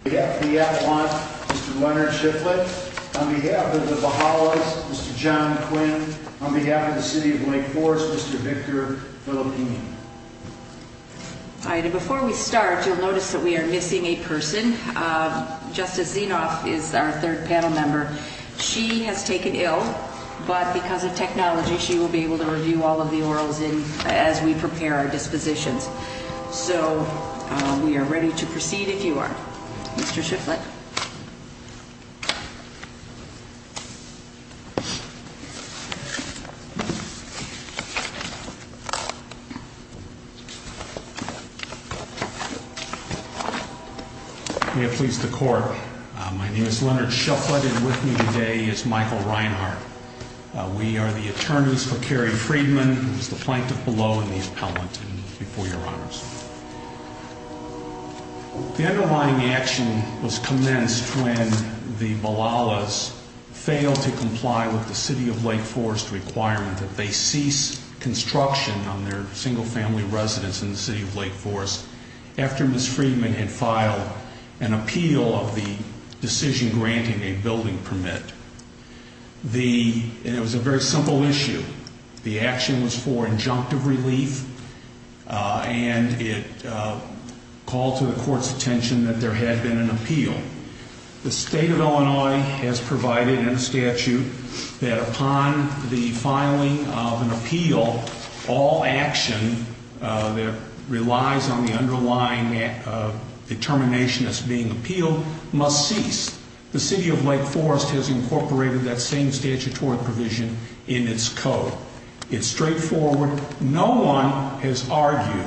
On behalf of the athlete, Mr. Leonard Shiflett. On behalf of the Bahalas, Mr. John Quinn. On behalf of the City of Wake Forest, Mr. Victor Filippini. Before we start, you'll notice that we are missing a person. Justice Zinoff is our third panel member. She has taken ill, but because of technology, she will be able to review all of the orals as we prepare our dispositions. So, we are ready to proceed if you are. Mr. Shiflett. May it please the Court, my name is Leonard Shiflett and with me today is Michael Reinhart. We are the attorneys for Carrie Freedman, who is the plaintiff below in the appellant, before your honors. The underlying action was commenced when the Bahalas failed to comply with the City of Wake Forest requirement that they cease construction on their single-family residence in the City of Wake Forest after Ms. Freedman had filed an appeal of the decision granting a building permit. It was a very simple issue. The action was for injunctive relief and it called to the Court's attention that there had been an appeal. The State of Illinois has provided in a statute that upon the filing of an appeal, all action that relies on the underlying determination as being appealed must cease. The City of Wake Forest has incorporated that same statutory provision in its code. It's straightforward. No one has argued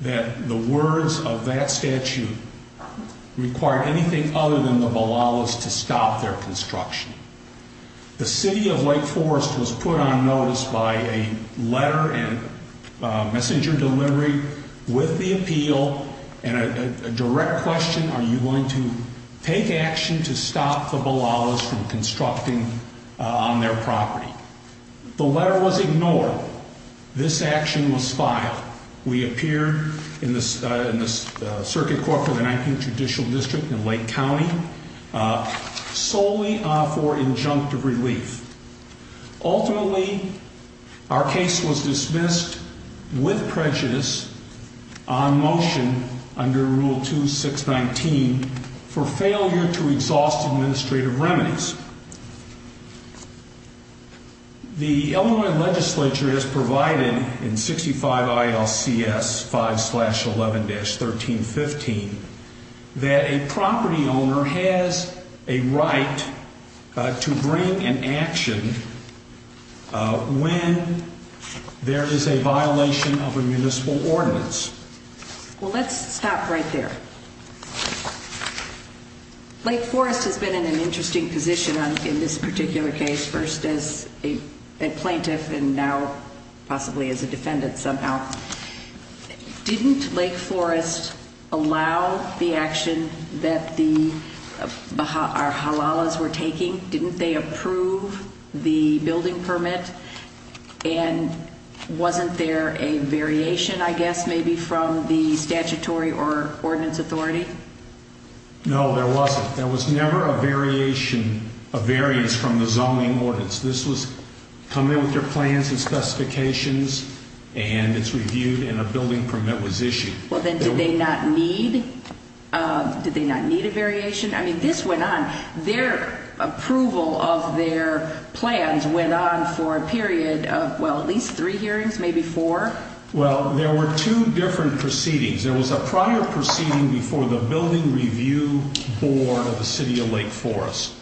that the words of that statute require anything other than the Bahalas to stop their construction. The City of Wake Forest was put on notice by a letter and messenger delivery with the appeal and a direct question, are you going to take action to stop the Bahalas from constructing on their property? The letter was ignored. This action was filed. We appear in the Circuit Court for the 19th Judicial District in Lake County solely for injunctive relief. Ultimately, our case was dismissed with prejudice on motion under Rule 2619 for failure to exhaust administrative remedies. The Illinois legislature has provided in 65 ILCS 5-11-1315 that a property owner has a right to bring an action when there is a violation of a municipal ordinance. Well, let's stop right there. Lake Forest has been in an interesting position in this particular case, first as a plaintiff and now possibly as a defendant somehow. Didn't Lake Forest allow the action that the Halalas were taking? Didn't they approve the building permit? And wasn't there a variation, I guess, maybe from the statutory or ordinance authority? No, there wasn't. There was never a variation, a variance from the zoning ordinance. This was come in with their plans and specifications and it's reviewed and a building permit was issued. Well, then did they not need a variation? I mean, this went on. Their approval of their plans went on for a period of, well, at least three hearings, maybe four? Well, there were two different proceedings. There was a prior proceeding before the Building Review Board of the City of Lake Forest,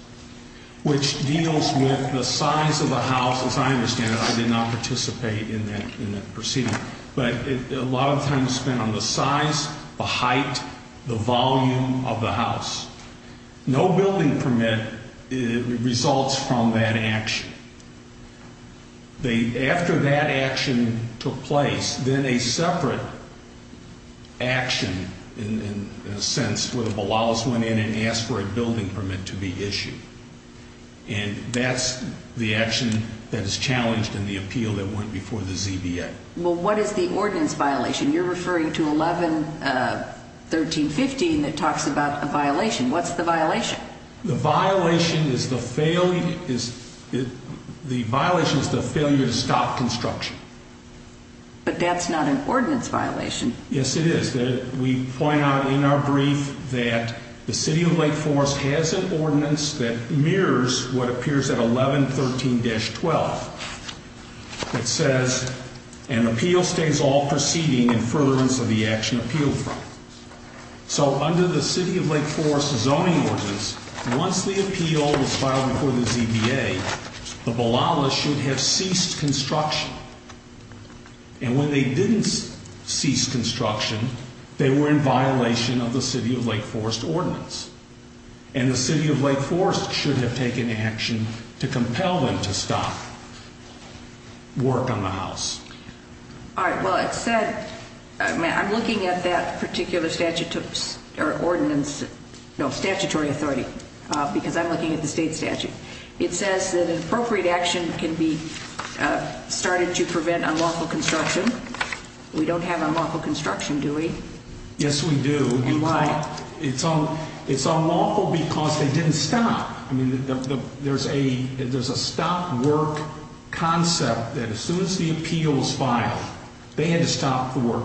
which deals with the size of the house. As I understand it, I did not participate in that proceeding, but a lot of time was spent on the size, the height, the volume of the house. No building permit results from that action. After that action took place, then a separate action, in a sense, where the Halalas went in and asked for a building permit to be issued. And that's the action that is challenged in the appeal that went before the ZBA. Well, what is the ordinance violation? You're referring to 11.13.15 that talks about a violation. What's the violation? The violation is the failure to stop construction. But that's not an ordinance violation. Yes, it is. We point out in our brief that the City of Lake Forest has an ordinance that mirrors what appears at 11.13-12. It says, an appeal stays all proceeding in furtherance of the action appealed for. So under the City of Lake Forest zoning ordinance, once the appeal was filed before the ZBA, the Halalas should have ceased construction. And when they didn't cease construction, they were in violation of the City of Lake Forest ordinance. And the City of Lake Forest should have taken action to compel them to stop work on the house. All right, well, it said, I'm looking at that particular statute or ordinance, no, statutory authority, because I'm looking at the state statute. It says that an appropriate action can be started to prevent unlawful construction. We don't have unlawful construction, do we? Yes, we do. It's unlawful because they didn't stop. I mean, there's a stop work concept that as soon as the appeal was filed, they had to stop the work.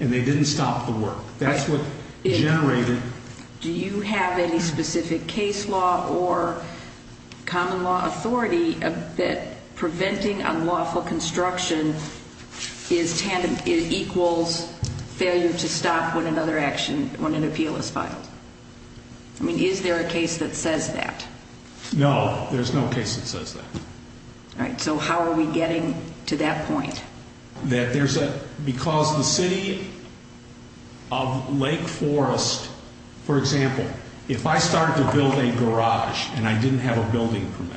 And they didn't stop the work. That's what generated- Do you have any specific case law or common law authority that preventing unlawful construction equals failure to stop when another action, when an appeal is filed? I mean, is there a case that says that? No, there's no case that says that. All right, so how are we getting to that point? Because the City of Lake Forest, for example, if I started to build a garage and I didn't have a building permit-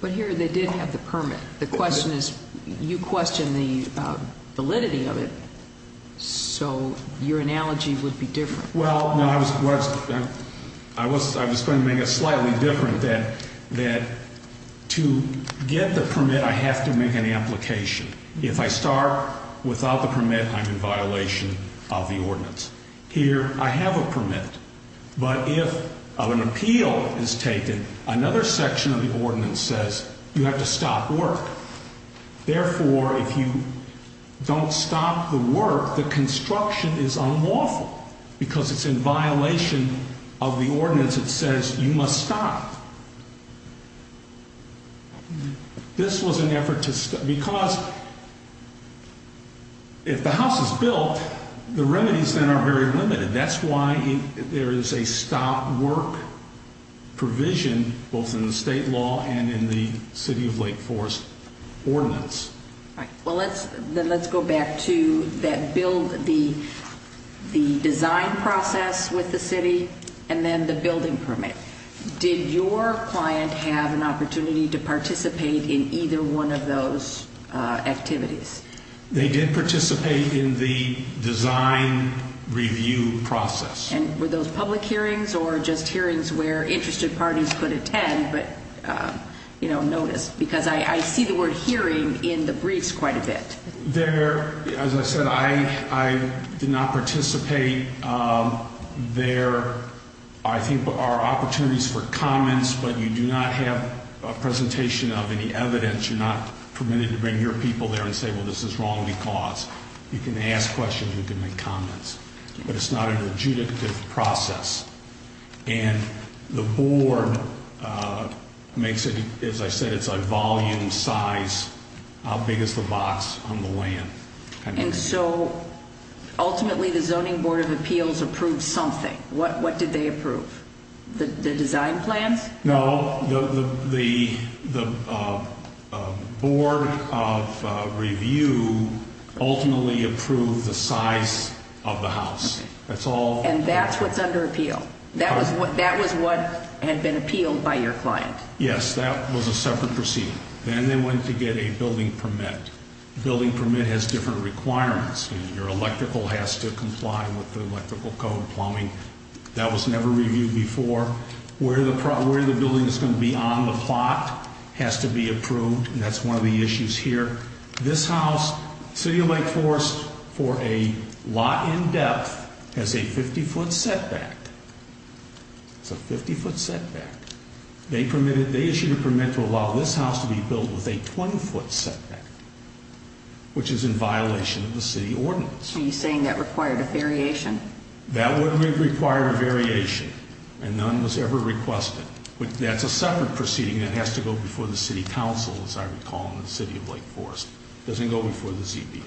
But here they did have the permit. The question is, you question the validity of it, so your analogy would be different. Well, no, I was going to make it slightly different, that to get the permit, I have to make an application. If I start without the permit, I'm in violation of the ordinance. Here, I have a permit, but if an appeal is taken, another section of the ordinance says you have to stop work. Therefore, if you don't stop the work, the construction is unlawful because it's in violation of the ordinance. It says you must stop. This was an effort to stop- Because if the house is built, the remedies then are very limited. That's why there is a stop work provision, both in the state law and in the City of Lake Forest ordinance. All right, then let's go back to the design process with the city and then the building permit. Did your client have an opportunity to participate in either one of those activities? They did participate in the design review process. Were those public hearings or just hearings where interested parties could attend but notice? Because I see the word hearing in the briefs quite a bit. As I said, I did not participate. There, I think, are opportunities for comments, but you do not have a presentation of any evidence. You're not permitted to bring your people there and say, well, this is wrong because. You can ask questions, you can make comments, but it's not an adjudicative process. And the board makes it, as I said, it's a volume size, how big is the box on the land kind of thing. And so, ultimately, the Zoning Board of Appeals approved something. What did they approve? The design plans? No, the board of review ultimately approved the size of the house. And that's what's under appeal? That was what had been appealed by your client? Yes, that was a separate proceeding. Then they went to get a building permit. The building permit has different requirements. Your electrical has to comply with the electrical code plumbing. That was never reviewed before. Where the building is going to be on the plot has to be approved, and that's one of the issues here. This house, City of Lake Forest, for a lot in depth, has a 50-foot setback. It's a 50-foot setback. They issued a permit to allow this house to be built with a 20-foot setback, which is in violation of the city ordinance. Are you saying that required a variation? That would require a variation, and none was ever requested. That's a separate proceeding that has to go before the city council, as I recall, in the City of Lake Forest. It doesn't go before the ZBA.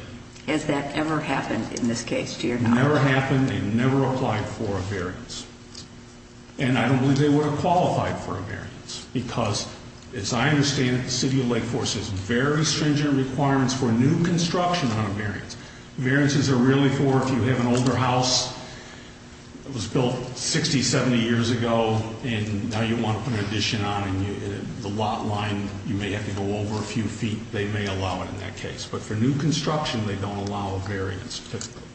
Has that ever happened in this case to your house? It never happened. They never applied for a variance. And I don't believe they would have qualified for a variance because, as I understand it, Variances are really for if you have an older house that was built 60, 70 years ago, and now you want to put an addition on, and the lot line, you may have to go over a few feet. They may allow it in that case. But for new construction, they don't allow a variance.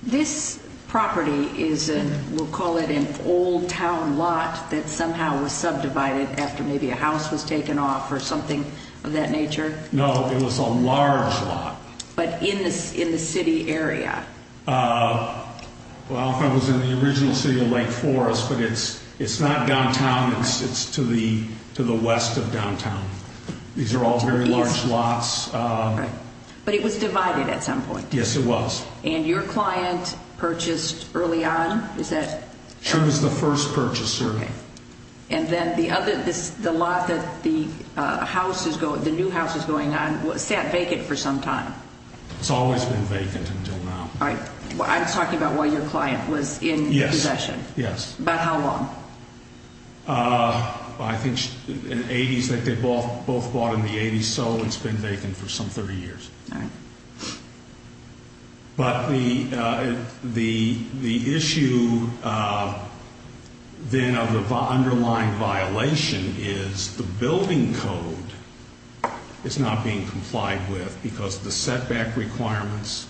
This property is a, we'll call it an old town lot that somehow was subdivided after maybe a house was taken off or something of that nature? No, it was a large lot. But in the city area? Well, if I was in the original City of Lake Forest, but it's not downtown. It's to the west of downtown. These are all very large lots. But it was divided at some point? Yes, it was. And your client purchased early on? She was the first purchaser. And then the lot that the new house is going on sat vacant for some time? It's always been vacant until now. I'm talking about while your client was in possession. Yes. About how long? I think in the 80s, they both bought in the 80s, so it's been vacant for some 30 years. All right. But the issue then of the underlying violation is the building code is not being complied with because of the setback requirements,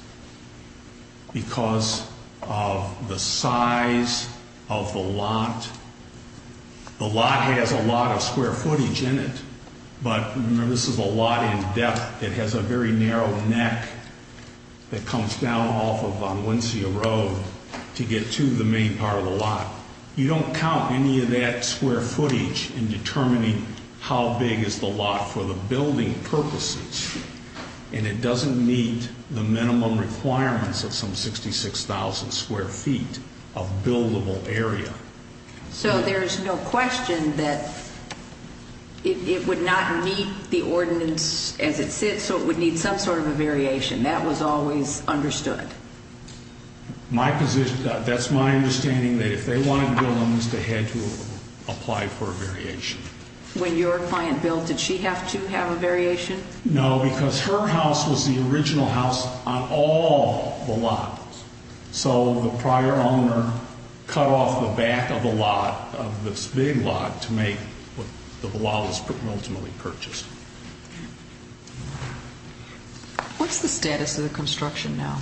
because of the size of the lot. The lot has a lot of square footage in it. But remember, this is a lot in depth. It has a very narrow neck that comes down off of Valencia Road to get to the main part of the lot. You don't count any of that square footage in determining how big is the lot for the building purposes. And it doesn't meet the minimum requirements of some 66,000 square feet of buildable area. So there's no question that it would not meet the ordinance as it sits, so it would need some sort of a variation. That was always understood. That's my understanding, that if they wanted to build on this, they had to apply for a variation. When your client built, did she have to have a variation? No, because her house was the original house on all the lots. So the prior owner cut off the back of the lot, of this big lot, to make what the lot was ultimately purchased. What's the status of the construction now?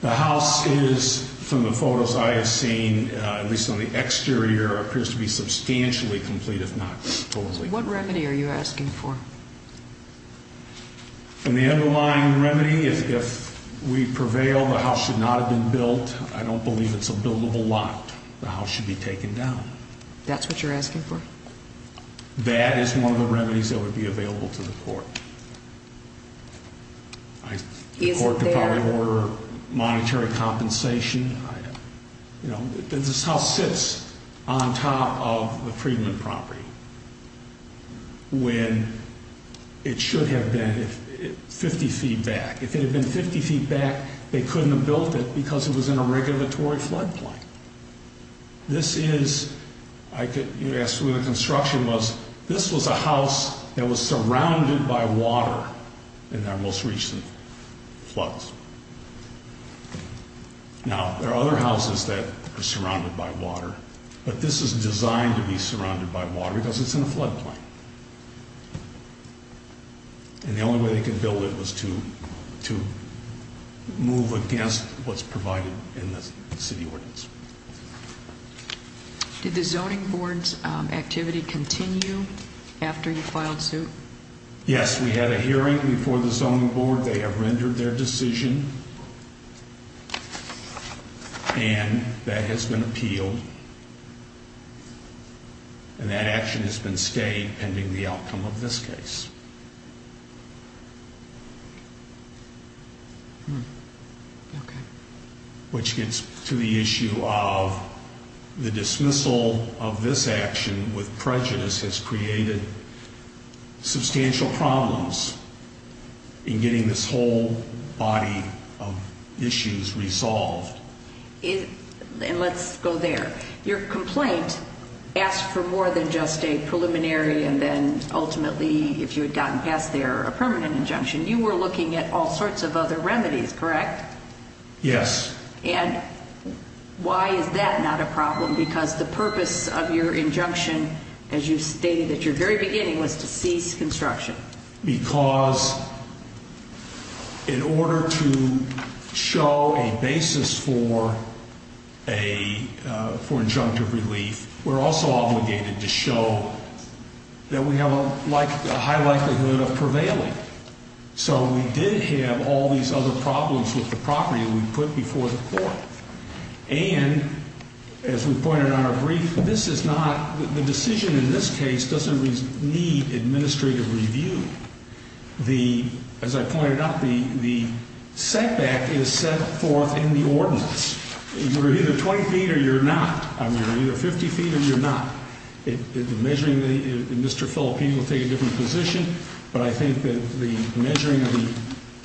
The house is, from the photos I have seen, at least on the exterior, appears to be substantially complete, if not totally. What remedy are you asking for? The underlying remedy is if we prevail, the house should not have been built. I don't believe it's a buildable lot. The house should be taken down. That's what you're asking for? That is one of the remedies that would be available to the court. Is it there? The court could probably order monetary compensation. This house sits on top of the Friedman property. When it should have been 50 feet back. If it had been 50 feet back, they couldn't have built it because it was in a regulatory floodplain. This is, I could ask who the construction was. This was a house that was surrounded by water in our most recent floods. Now, there are other houses that are surrounded by water, but this is designed to be surrounded by water. Because it's in a floodplain. And the only way they could build it was to move against what's provided in the city ordinance. Did the zoning board's activity continue after you filed suit? Yes, we had a hearing before the zoning board. They have rendered their decision. And that has been appealed. And that action has been stayed pending the outcome of this case. Okay. Which gets to the issue of the dismissal of this action with prejudice has created substantial problems in getting this whole body of issues resolved. And let's go there. Your complaint asked for more than just a preliminary and then ultimately, if you had gotten past there, a permanent injunction. You were looking at all sorts of other remedies, correct? Yes. And why is that not a problem? Because the purpose of your injunction, as you stated at your very beginning, was to cease construction. Because in order to show a basis for injunctive relief, we're also obligated to show that we have a high likelihood of prevailing. So we did have all these other problems with the property we put before the court. And as we pointed out in our brief, this is not, the decision in this case doesn't need administrative review. As I pointed out, the setback is set forth in the ordinance. You're either 20 feet or you're not. You're either 50 feet or you're not. The measuring, Mr. Filippini will take a different position, but I think that the measuring of the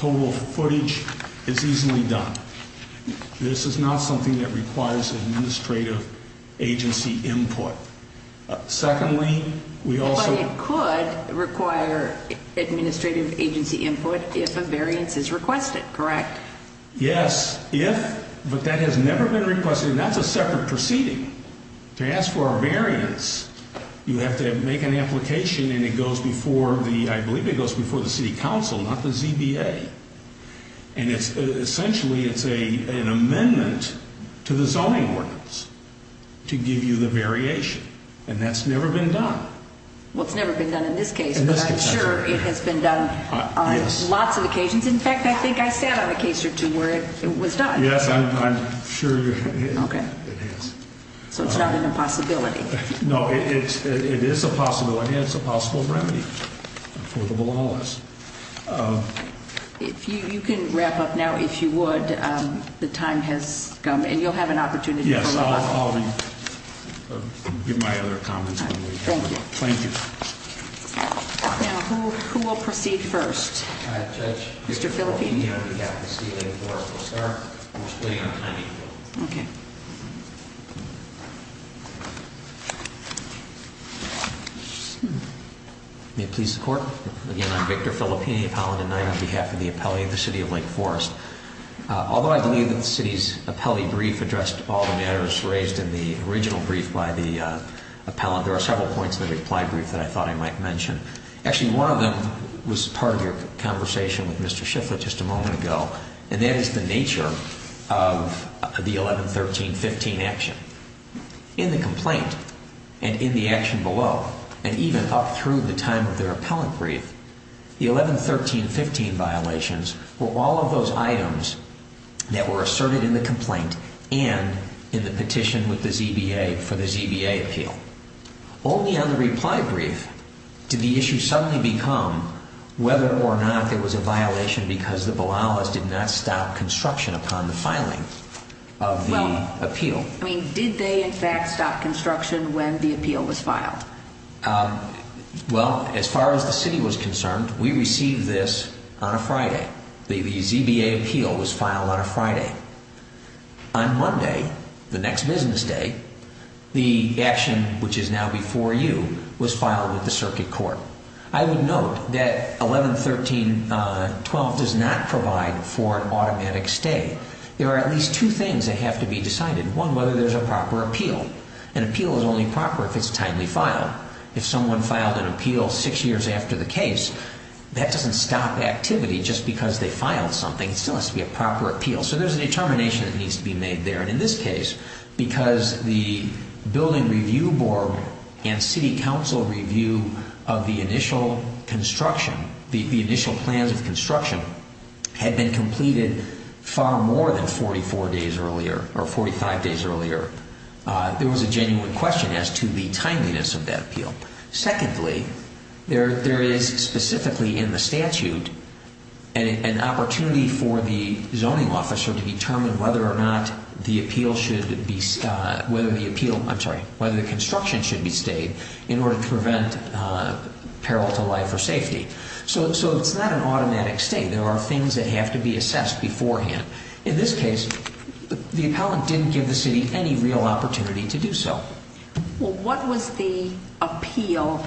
total footage is easily done. This is not something that requires administrative agency input. Secondly, we also- But it could require administrative agency input if a variance is requested, correct? Yes, if, but that has never been requested and that's a separate proceeding. To ask for a variance, you have to make an application and it goes before the, I believe it goes before the city council, not the ZBA. And it's essentially, it's an amendment to the zoning ordinance to give you the variation. And that's never been done. Well, it's never been done in this case, but I'm sure it has been done on lots of occasions. In fact, I think I sat on a case or two where it was done. Yes, I'm sure it is. So it's not an impossibility. No, it is a possibility. It's a possible remedy for the belongers. If you can wrap up now, if you would. The time has come and you'll have an opportunity to- Yes, I'll give my other comments. Thank you. Thank you. Now, who will proceed first? I, Judge. Mr. Filippini. I'll be back this evening before we start. We're splitting on a timing bill. Okay. May it please the court. Again, I'm Victor Filippini, appellant at nine on behalf of the appellee of the city of Lake Forest. Although I believe that the city's appellee brief addressed all the matters raised in the original brief by the appellant, there are several points in the reply brief that I thought I might mention. Actually, one of them was part of your conversation with Mr. Shifflett just a moment ago, and that is the nature of the 11-13-15 action. In the complaint and in the action below, and even up through the time of their appellant brief, the 11-13-15 violations were all of those items that were asserted in the complaint and in the petition with the ZBA for the ZBA appeal. Only on the reply brief did the issue suddenly become whether or not there was a violation because the Bilalas did not stop construction upon the filing of the appeal. Did they, in fact, stop construction when the appeal was filed? Well, as far as the city was concerned, we received this on a Friday. The ZBA appeal was filed on a Friday. On Monday, the next business day, the action, which is now before you, was filed with the circuit court. I would note that 11-13-12 does not provide for an automatic stay. There are at least two things that have to be decided. One, whether there's a proper appeal. An appeal is only proper if it's timely filed. If someone filed an appeal six years after the case, that doesn't stop activity just because they filed something. It still has to be a proper appeal, so there's a determination that needs to be made there. In this case, because the building review board and city council review of the initial construction, the initial plans of construction, had been completed far more than 44 days earlier or 45 days earlier, there was a genuine question as to the timeliness of that appeal. Secondly, there is specifically in the statute an opportunity for the zoning officer to determine whether or not the construction should be stayed in order to prevent peril to life or safety. So it's not an automatic stay. There are things that have to be assessed beforehand. In this case, the appellant didn't give the city any real opportunity to do so. Well, what was the appeal?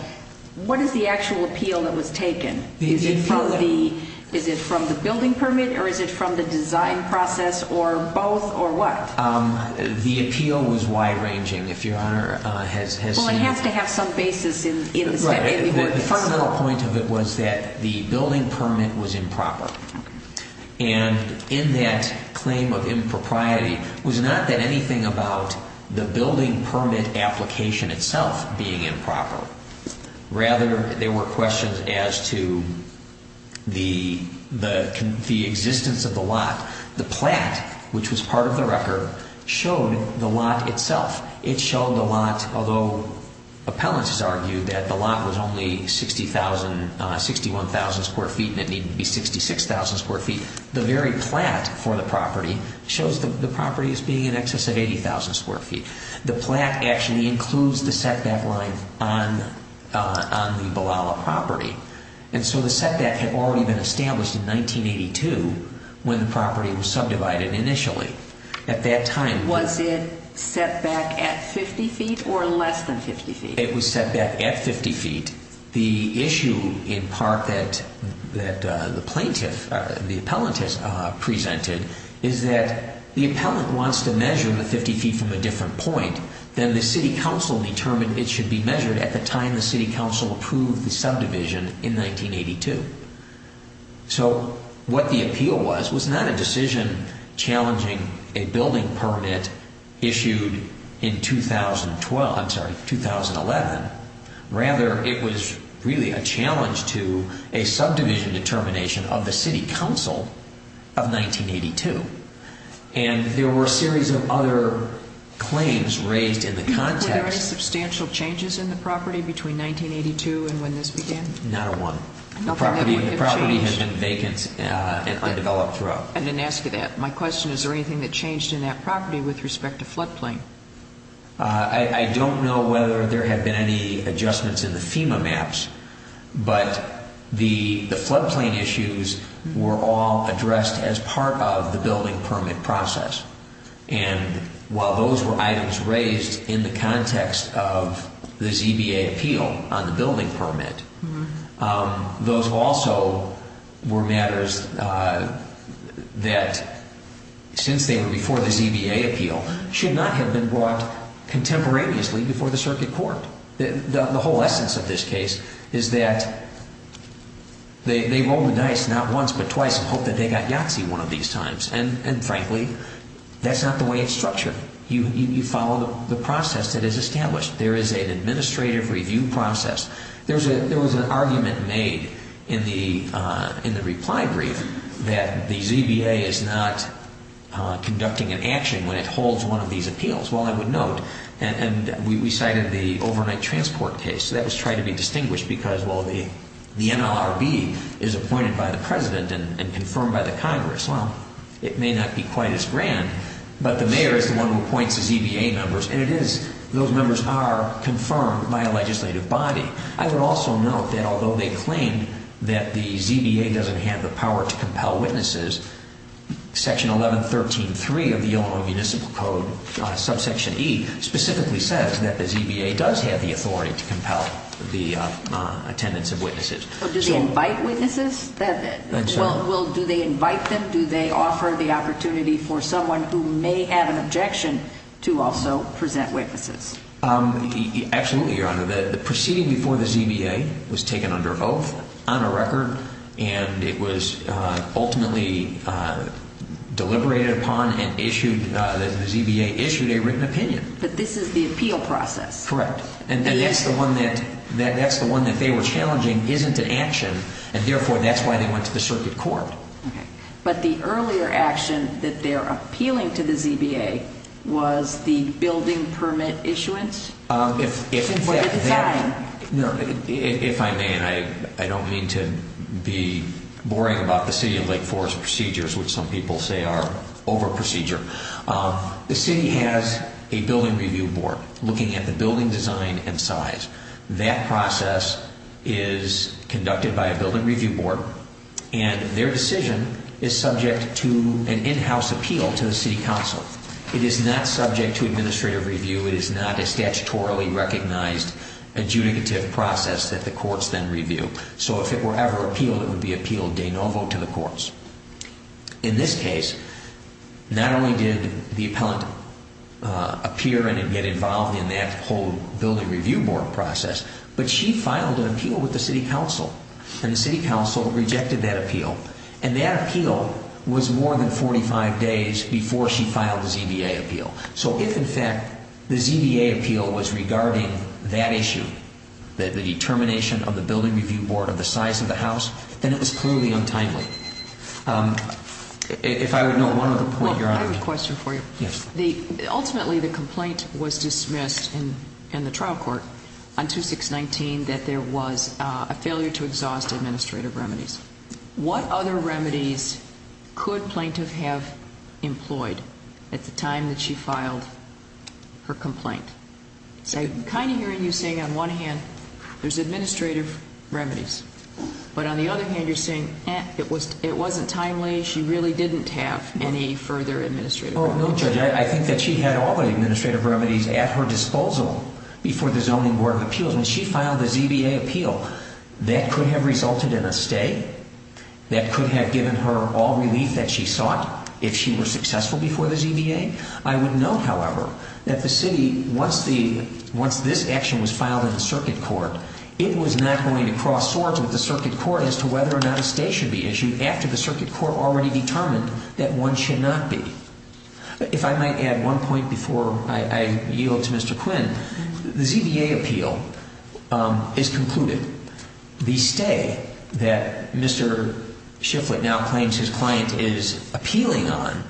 What is the actual appeal that was taken? Is it from the building permit, or is it from the design process, or both, or what? The appeal was wide-ranging, if Your Honor has seen it. Well, it has to have some basis in the court case. The fundamental point of it was that the building permit was improper. And in that claim of impropriety was not that anything about the building permit application itself being improper. Rather, there were questions as to the existence of the lot. The plat, which was part of the record, showed the lot itself. It showed the lot, although appellants argued that the lot was only 61,000 square feet and it needed to be 66,000 square feet. The very plat for the property shows the property as being in excess of 80,000 square feet. The plat actually includes the setback line on the Ballala property. And so the setback had already been established in 1982 when the property was subdivided initially. Was it setback at 50 feet or less than 50 feet? It was setback at 50 feet. The issue, in part, that the plaintiff, the appellant, has presented is that the appellant wants to measure the 50 feet from a different point than the city council determined it should be measured at the time the city council approved the subdivision in 1982. So what the appeal was, was not a decision challenging a building permit issued in 2012, I'm sorry, 2011. Rather, it was really a challenge to a subdivision determination of the city council of 1982. And there were a series of other claims raised in the context. Were there any substantial changes in the property between 1982 and when this began? Not a one. The property has been vacant and undeveloped throughout. I didn't ask you that. My question is, is there anything that changed in that property with respect to floodplain? I don't know whether there have been any adjustments in the FEMA maps, but the floodplain issues were all addressed as part of the building permit process. And while those were items raised in the context of the ZBA appeal on the building permit, those also were matters that, since they were before the ZBA appeal, should not have been brought contemporaneously before the circuit court. The whole essence of this case is that they rolled the dice not once but twice and hoped that they got Yahtzee one of these times. And, frankly, that's not the way it's structured. You follow the process that is established. There is an administrative review process. There was an argument made in the reply brief that the ZBA is not conducting an action when it holds one of these appeals. Well, I would note, and we cited the overnight transport case. That was tried to be distinguished because, well, the NLRB is appointed by the President and confirmed by the Congress. Well, it may not be quite as grand, but the mayor is the one who appoints the ZBA members, and those members are confirmed by a legislative body. I would also note that, although they claim that the ZBA doesn't have the power to compel witnesses, Section 1113.3 of the Illinois Municipal Code, subsection E, specifically says that the ZBA does have the authority to compel the attendance of witnesses. Do they invite witnesses? Well, do they invite them? Do they offer the opportunity for someone who may have an objection to also present witnesses? Absolutely, Your Honor. The proceeding before the ZBA was taken under oath on a record, and it was ultimately deliberated upon and the ZBA issued a written opinion. But this is the appeal process. Correct. And that's the one that they were challenging isn't an action, and therefore that's why they went to the circuit court. Okay. But the earlier action that they're appealing to the ZBA was the building permit issuance? For the design? No, if I may, and I don't mean to be boring about the City of Lake Forest procedures, which some people say are over procedure. The city has a building review board looking at the building design and size. That process is conducted by a building review board, and their decision is subject to an in-house appeal to the city council. It is not subject to administrative review. It is not a statutorily recognized adjudicative process that the courts then review. So if it were ever appealed, it would be appealed de novo to the courts. In this case, not only did the appellant appear and get involved in that whole building review board process, but she filed an appeal with the city council, and the city council rejected that appeal. And that appeal was more than 45 days before she filed the ZBA appeal. So if, in fact, the ZBA appeal was regarding that issue, the determination of the building review board of the size of the house, then it was clearly untimely. If I would know one other point, Your Honor. I have a question for you. Yes. Ultimately, the complaint was dismissed in the trial court on 2619 that there was a failure to exhaust administrative remedies. What other remedies could plaintiff have employed at the time that she filed her complaint? I'm kind of hearing you saying on one hand there's administrative remedies, but on the other hand you're saying it wasn't timely, she really didn't have any further administrative remedies. No, Judge. I think that she had all the administrative remedies at her disposal before the zoning board of appeals. When she filed the ZBA appeal, that could have resulted in a stay. That could have given her all relief that she sought if she were successful before the ZBA. I would note, however, that the city, once this action was filed in the circuit court, it was not going to cross swords with the circuit court as to whether or not a stay should be issued after the circuit court already determined that one should not be. If I might add one point before I yield to Mr. Quinn. The ZBA appeal is concluded. The stay that Mr. Shifflett now claims his client is appealing on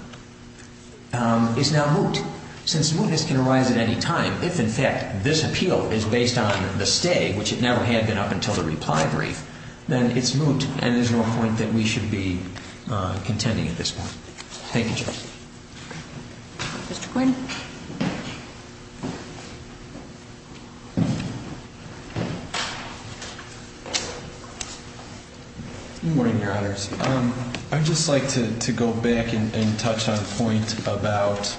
is now moot. Since mootness can arise at any time, if in fact this appeal is based on the stay, which it never had been up until the reply brief, then it's moot, and there's no point that we should be contending at this point. Thank you, Judge. Mr. Quinn. Good morning, Your Honors. I'd just like to go back and touch on a point about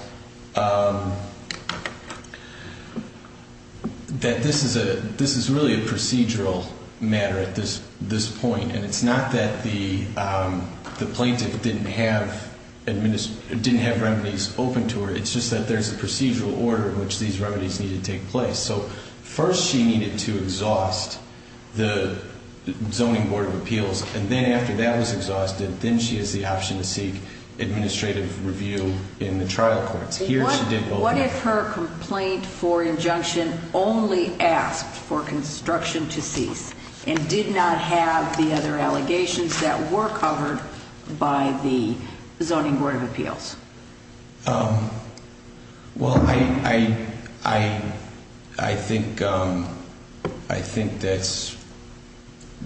that this is really a procedural matter at this point, and it's not that the plaintiff didn't have remedies open to her. It's just that there's a procedural order in which these remedies need to take place. So first she needed to exhaust the Zoning Board of Appeals, and then after that was exhausted, then she has the option to seek administrative review in the trial courts. What if her complaint for injunction only asked for construction to cease and did not have the other allegations that were covered by the Zoning Board of Appeals? Well, I think that's...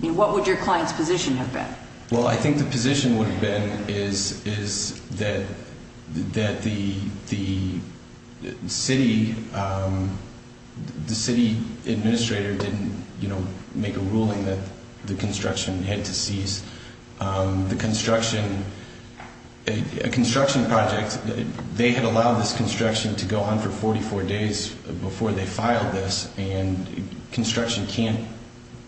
What would your client's position have been? Well, I think the position would have been that the city administrator didn't make a ruling that the construction had to cease. The construction project, they had allowed this construction to go on for 44 days before they filed this, and construction can't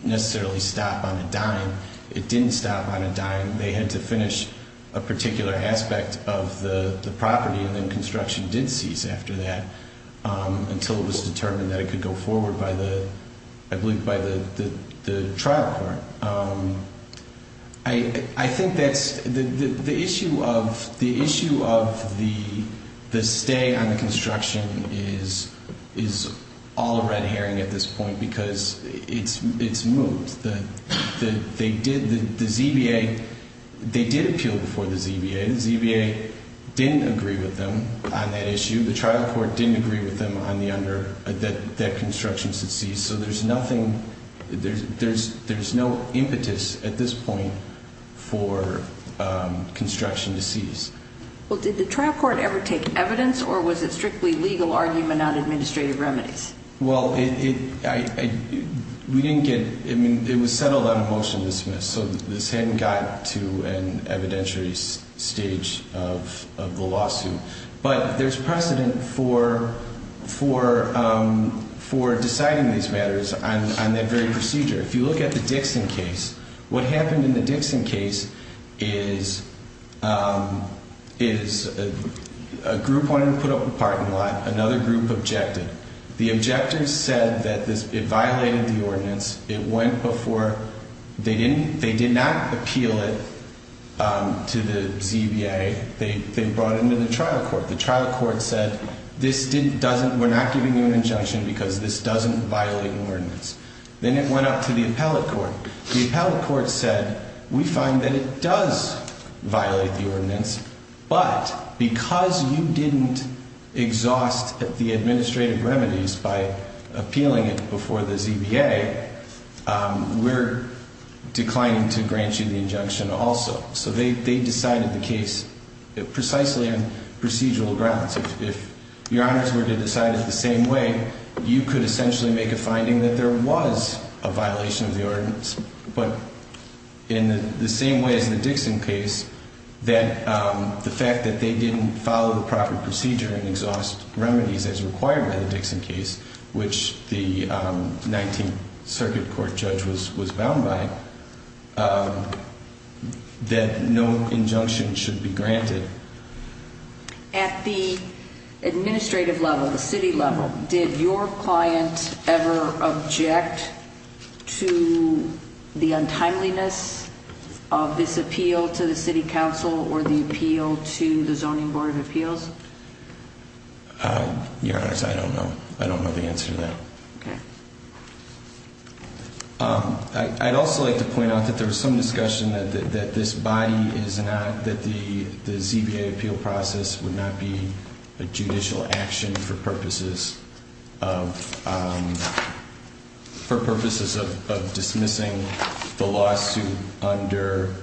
necessarily stop on a dime. It didn't stop on a dime. They had to finish a particular aspect of the property, and then construction did cease after that until it was determined that it could go forward, I believe, by the trial court. I think that's... The issue of the stay on the construction is all a red herring at this point because it's moved. The ZBA, they did appeal before the ZBA. The ZBA didn't agree with them on that issue. The trial court didn't agree with them on that construction should cease, so there's nothing, there's no impetus at this point for construction to cease. Well, did the trial court ever take evidence, or was it strictly legal argument on administrative remedies? Well, we didn't get, I mean, it was settled on a motion to dismiss, so this hadn't got to an evidentiary stage of the lawsuit, but there's precedent for deciding these matters on that very procedure. If you look at the Dixon case, what happened in the Dixon case is a group wanted to put up a parking lot. Another group objected. The objectors said that it violated the ordinance. It went before, they did not appeal it to the ZBA. They brought it into the trial court. The trial court said, we're not giving you an injunction because this doesn't violate the ordinance. Then it went up to the appellate court. The appellate court said, we find that it does violate the ordinance, but because you didn't exhaust the administrative remedies by appealing it before the ZBA, we're declining to grant you the injunction also. So they decided the case precisely on procedural grounds. If your honors were to decide it the same way, you could essentially make a finding that there was a violation of the ordinance, but in the same way as in the Dixon case, that the fact that they didn't follow the proper procedure and exhaust remedies as required by the Dixon case, which the 19th Circuit Court judge was bound by, that no injunction should be granted. At the administrative level, the city level, did your client ever object to the untimeliness of this appeal to the city council or the appeal to the Zoning Board of Appeals? Your honors, I don't know. I don't know the answer to that. Okay. I'd also like to point out that there was some discussion that this body is not, that the ZBA appeal process would not be a judicial action for purposes of dismissing the lawsuit under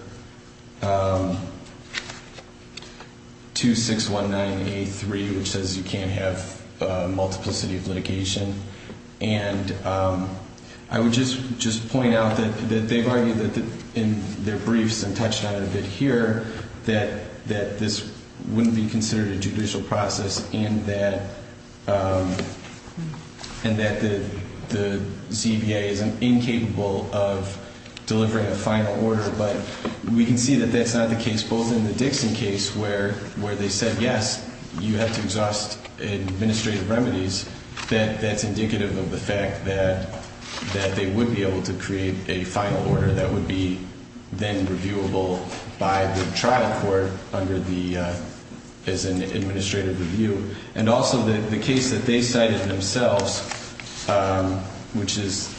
2619A3, which says you can't have multiplicity of litigation. And I would just point out that they've argued in their briefs and touched on it a bit here, that this wouldn't be considered a judicial process and that the ZBA is incapable of delivering a final order. But we can see that that's not the case, both in the Dixon case where they said, yes, you have to exhaust administrative remedies. That's indicative of the fact that they would be able to create a final order that would be then reviewable by the trial court under the, as an administrative review. And also the case that they cited themselves, which is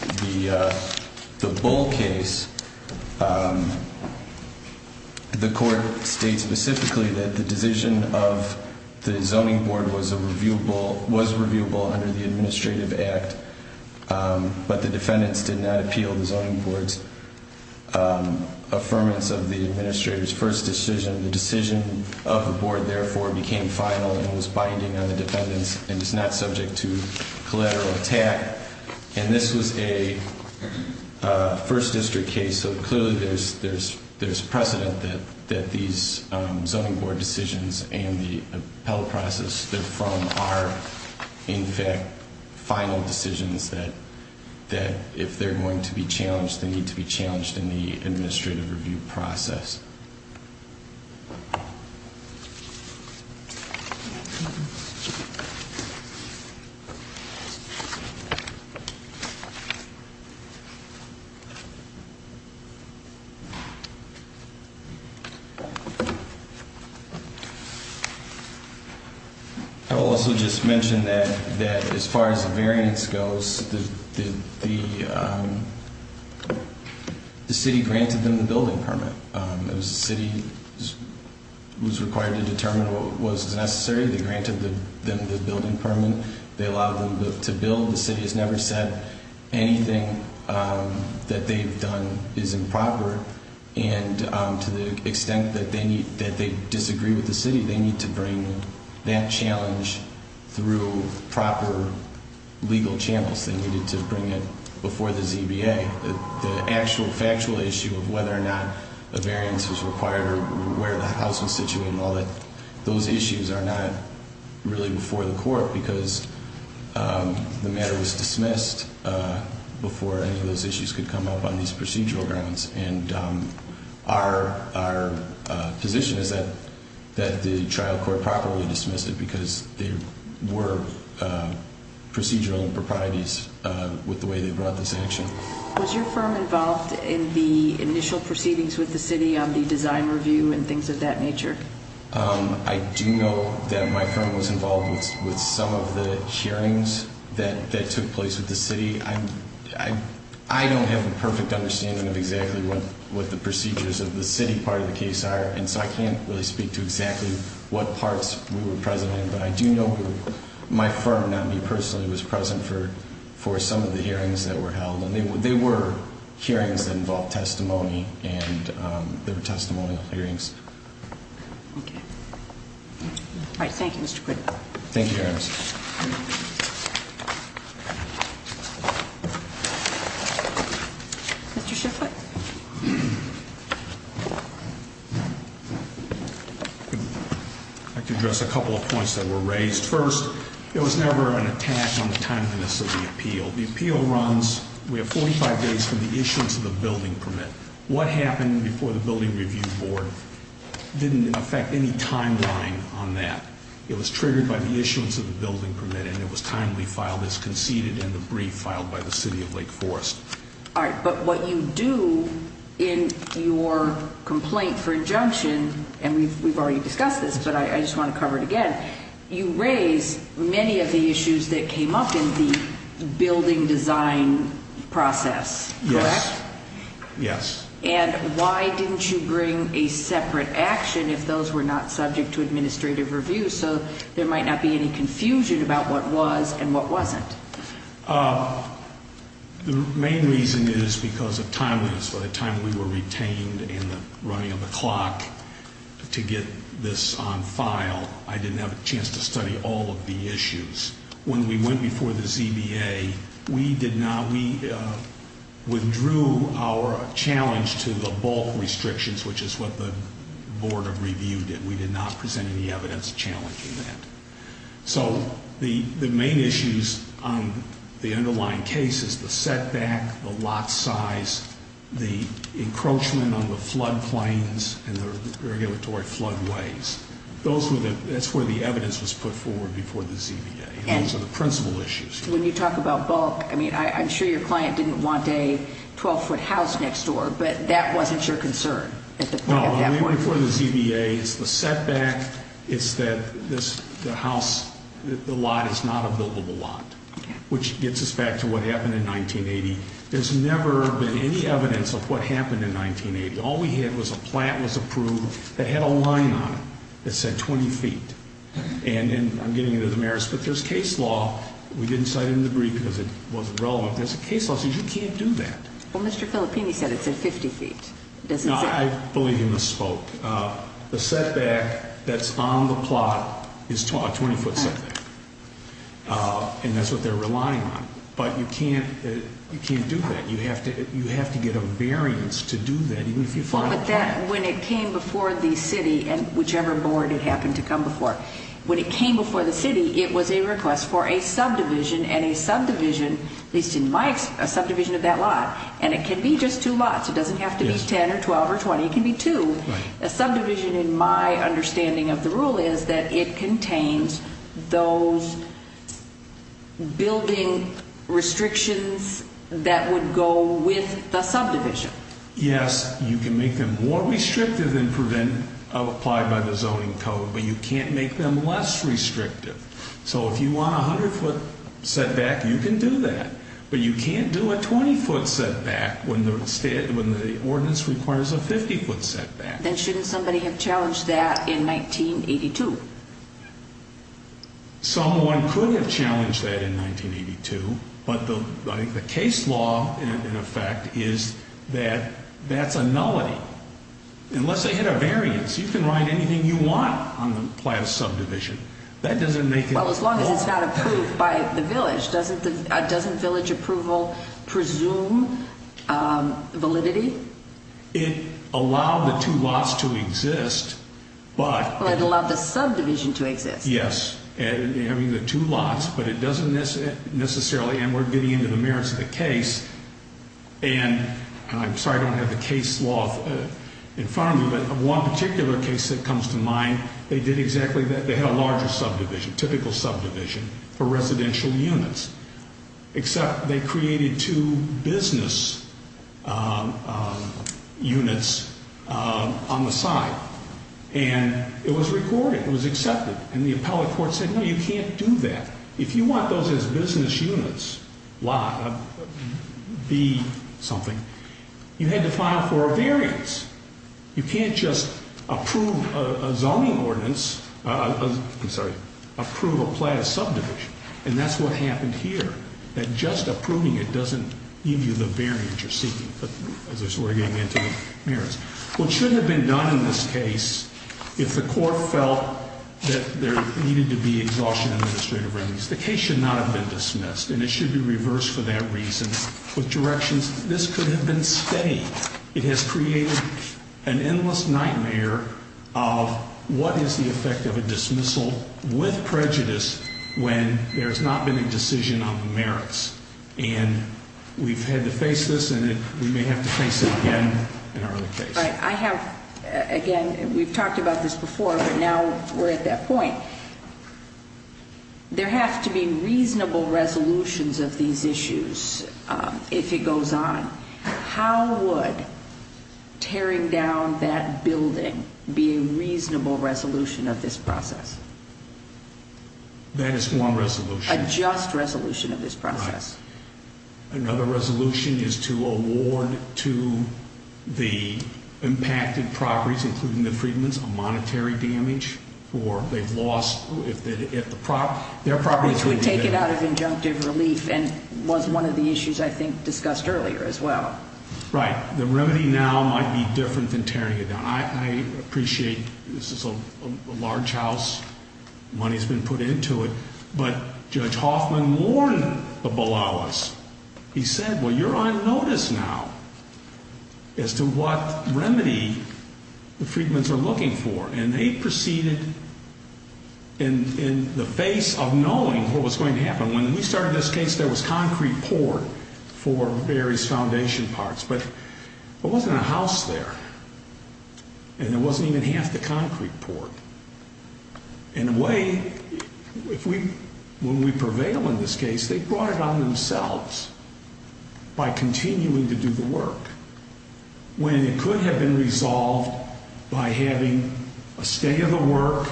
the Bull case, the court states specifically that the decision of the zoning board was reviewable under the administrative act, but the defendants did not appeal the zoning board's affirmance of the administrator's first decision. The decision of the board, therefore, became final and was binding on the defendants and is not subject to collateral attack. And this was a first district case, so clearly there's precedent that these zoning board decisions and the appellate process they're from are, in fact, final decisions that, if they're going to be challenged, they need to be challenged in the administrative review process. I will also just mention that as far as the variance goes, the city granted them the building permit. It was the city who was required to determine what was necessary. They granted them the building permit. They allowed them to build. The city has never said anything that they've done is improper. And to the extent that they disagree with the city, they need to bring that challenge through proper legal channels. They needed to bring it before the ZBA. The actual factual issue of whether or not a variance was required or where the house was situated and all that, those issues are not really before the court because the matter was dismissed before any of those issues could come up on these procedural grounds. And our position is that the trial court properly dismiss it because there were procedural improprieties with the way they brought this action. Was your firm involved in the initial proceedings with the city on the design review and things of that nature? I do know that my firm was involved with some of the hearings that took place with the city. I don't have a perfect understanding of exactly what the procedures of the city part of the case are, and so I can't really speak to exactly what parts we were present in. But I do know that my firm, not me personally, was present for some of the hearings that were held. And they were hearings that involved testimony, and they were testimonial hearings. Okay. All right, thank you, Mr. Quigley. Thank you, Your Honors. Mr. Shifflett. I'd like to address a couple of points that were raised. First, there was never an attack on the timeliness of the appeal. The appeal runs 45 days from the issuance of the building permit. What happened before the building review board didn't affect any timeline on that. It was triggered by the issuance of the building permit, and it was timely filed as conceded, and the brief filed by the city of Lake Forest. All right, but what you do in your complaint for injunction, and we've already discussed this, but I just want to cover it again, you raise many of the issues that came up in the building design process, correct? Yes, yes. And why didn't you bring a separate action if those were not subject to administrative review so there might not be any confusion about what was and what wasn't? The main reason is because of timeliness. By the time we were retained in the running of the clock to get this on file, I didn't have a chance to study all of the issues. When we went before the ZBA, we withdrew our challenge to the bulk restrictions, which is what the board of review did. We did not present any evidence challenging that. So the main issues on the underlying case is the setback, the lot size, the encroachment on the floodplains and the regulatory floodways. That's where the evidence was put forward before the ZBA, and those are the principal issues. When you talk about bulk, I mean, I'm sure your client didn't want a 12-foot house next door, but that wasn't your concern at that point? No, I mean before the ZBA, it's the setback, it's that the house, the lot is not a buildable lot, which gets us back to what happened in 1980. There's never been any evidence of what happened in 1980. All we had was a plant was approved that had a line on it that said 20 feet, and I'm getting into the merits, but there's case law. We didn't cite it in the brief because it wasn't relevant. There's a case law that says you can't do that. Well, Mr. Filippini said it said 50 feet. I believe he misspoke. The setback that's on the plot is a 20-foot setback, and that's what they're relying on. But you can't do that. You have to get a variance to do that, even if you file a plan. When it came before the city, whichever board it happened to come before, when it came before the city, it was a request for a subdivision, and a subdivision, at least in my subdivision of that lot, and it can be just two lots. It doesn't have to be 10 or 12 or 20. It can be two. A subdivision, in my understanding of the rule, is that it contains those building restrictions that would go with the subdivision. Yes, you can make them more restrictive than applied by the zoning code, but you can't make them less restrictive. So if you want a 100-foot setback, you can do that, but you can't do a 20-foot setback when the ordinance requires a 50-foot setback. Then shouldn't somebody have challenged that in 1982? Someone could have challenged that in 1982, but the case law, in effect, is that that's a nullity. Unless they hit a variance, you can write anything you want on the plan of subdivision. That doesn't make it law. Well, as long as it's not approved by the village, doesn't village approval presume validity? It allowed the two lots to exist. Well, it allowed the subdivision to exist. Yes, having the two lots, but it doesn't necessarily, and we're getting into the merits of the case, and I'm sorry I don't have the case law in front of me, but one particular case that comes to mind, they did exactly that. They had a larger subdivision, typical subdivision for residential units, except they created two business units on the side, and it was recorded, it was accepted, and the appellate court said, no, you can't do that. If you want those as business units, lot, be something, you had to file for a variance. You can't just approve a zoning ordinance, I'm sorry, approve a plan of subdivision, and that's what happened here, that just approving it doesn't give you the variance you're seeking, as we're getting into the merits. What should have been done in this case, if the court felt that there needed to be exhaustion administrative remedies, the case should not have been dismissed, and it should be reversed for that reason with directions. This could have been stayed. It has created an endless nightmare of what is the effect of a dismissal with prejudice when there's not been a decision on the merits, and we've had to face this, and we may have to face it again in our other case. I have, again, we've talked about this before, but now we're at that point. There have to be reasonable resolutions of these issues if it goes on. How would tearing down that building be a reasonable resolution of this process? That is one resolution. A just resolution of this process. Another resolution is to award to the impacted properties, including the Freedmen's, a monetary damage, or they've lost their property. Which would take it out of injunctive relief and was one of the issues I think discussed earlier as well. Right. The remedy now might be different than tearing it down. I appreciate this is a large house. Money has been put into it. But Judge Hoffman warned the Balawas. He said, well, you're on notice now as to what remedy the Freedmen's are looking for. And they proceeded in the face of knowing what was going to happen. When we started this case, there was concrete poured for various foundation parts. But there wasn't a house there. And there wasn't even half the concrete poured. In a way, when we prevail in this case, they brought it on themselves by continuing to do the work. When it could have been resolved by having a stay of the work,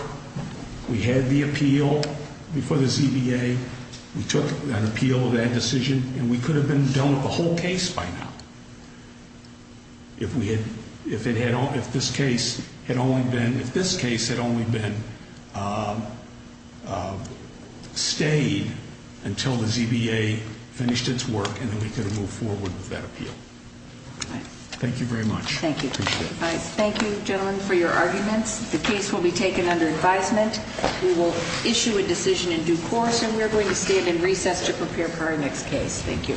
we had the appeal before the ZBA. We took an appeal of that decision. And we could have been done with the whole case by now. If this case had only been stayed until the ZBA finished its work, and then we could have moved forward with that appeal. Thank you very much. Thank you. Appreciate it. Thank you, gentlemen, for your arguments. The case will be taken under advisement. We will issue a decision in due course. And we are going to stand in recess to prepare for our next case. Thank you.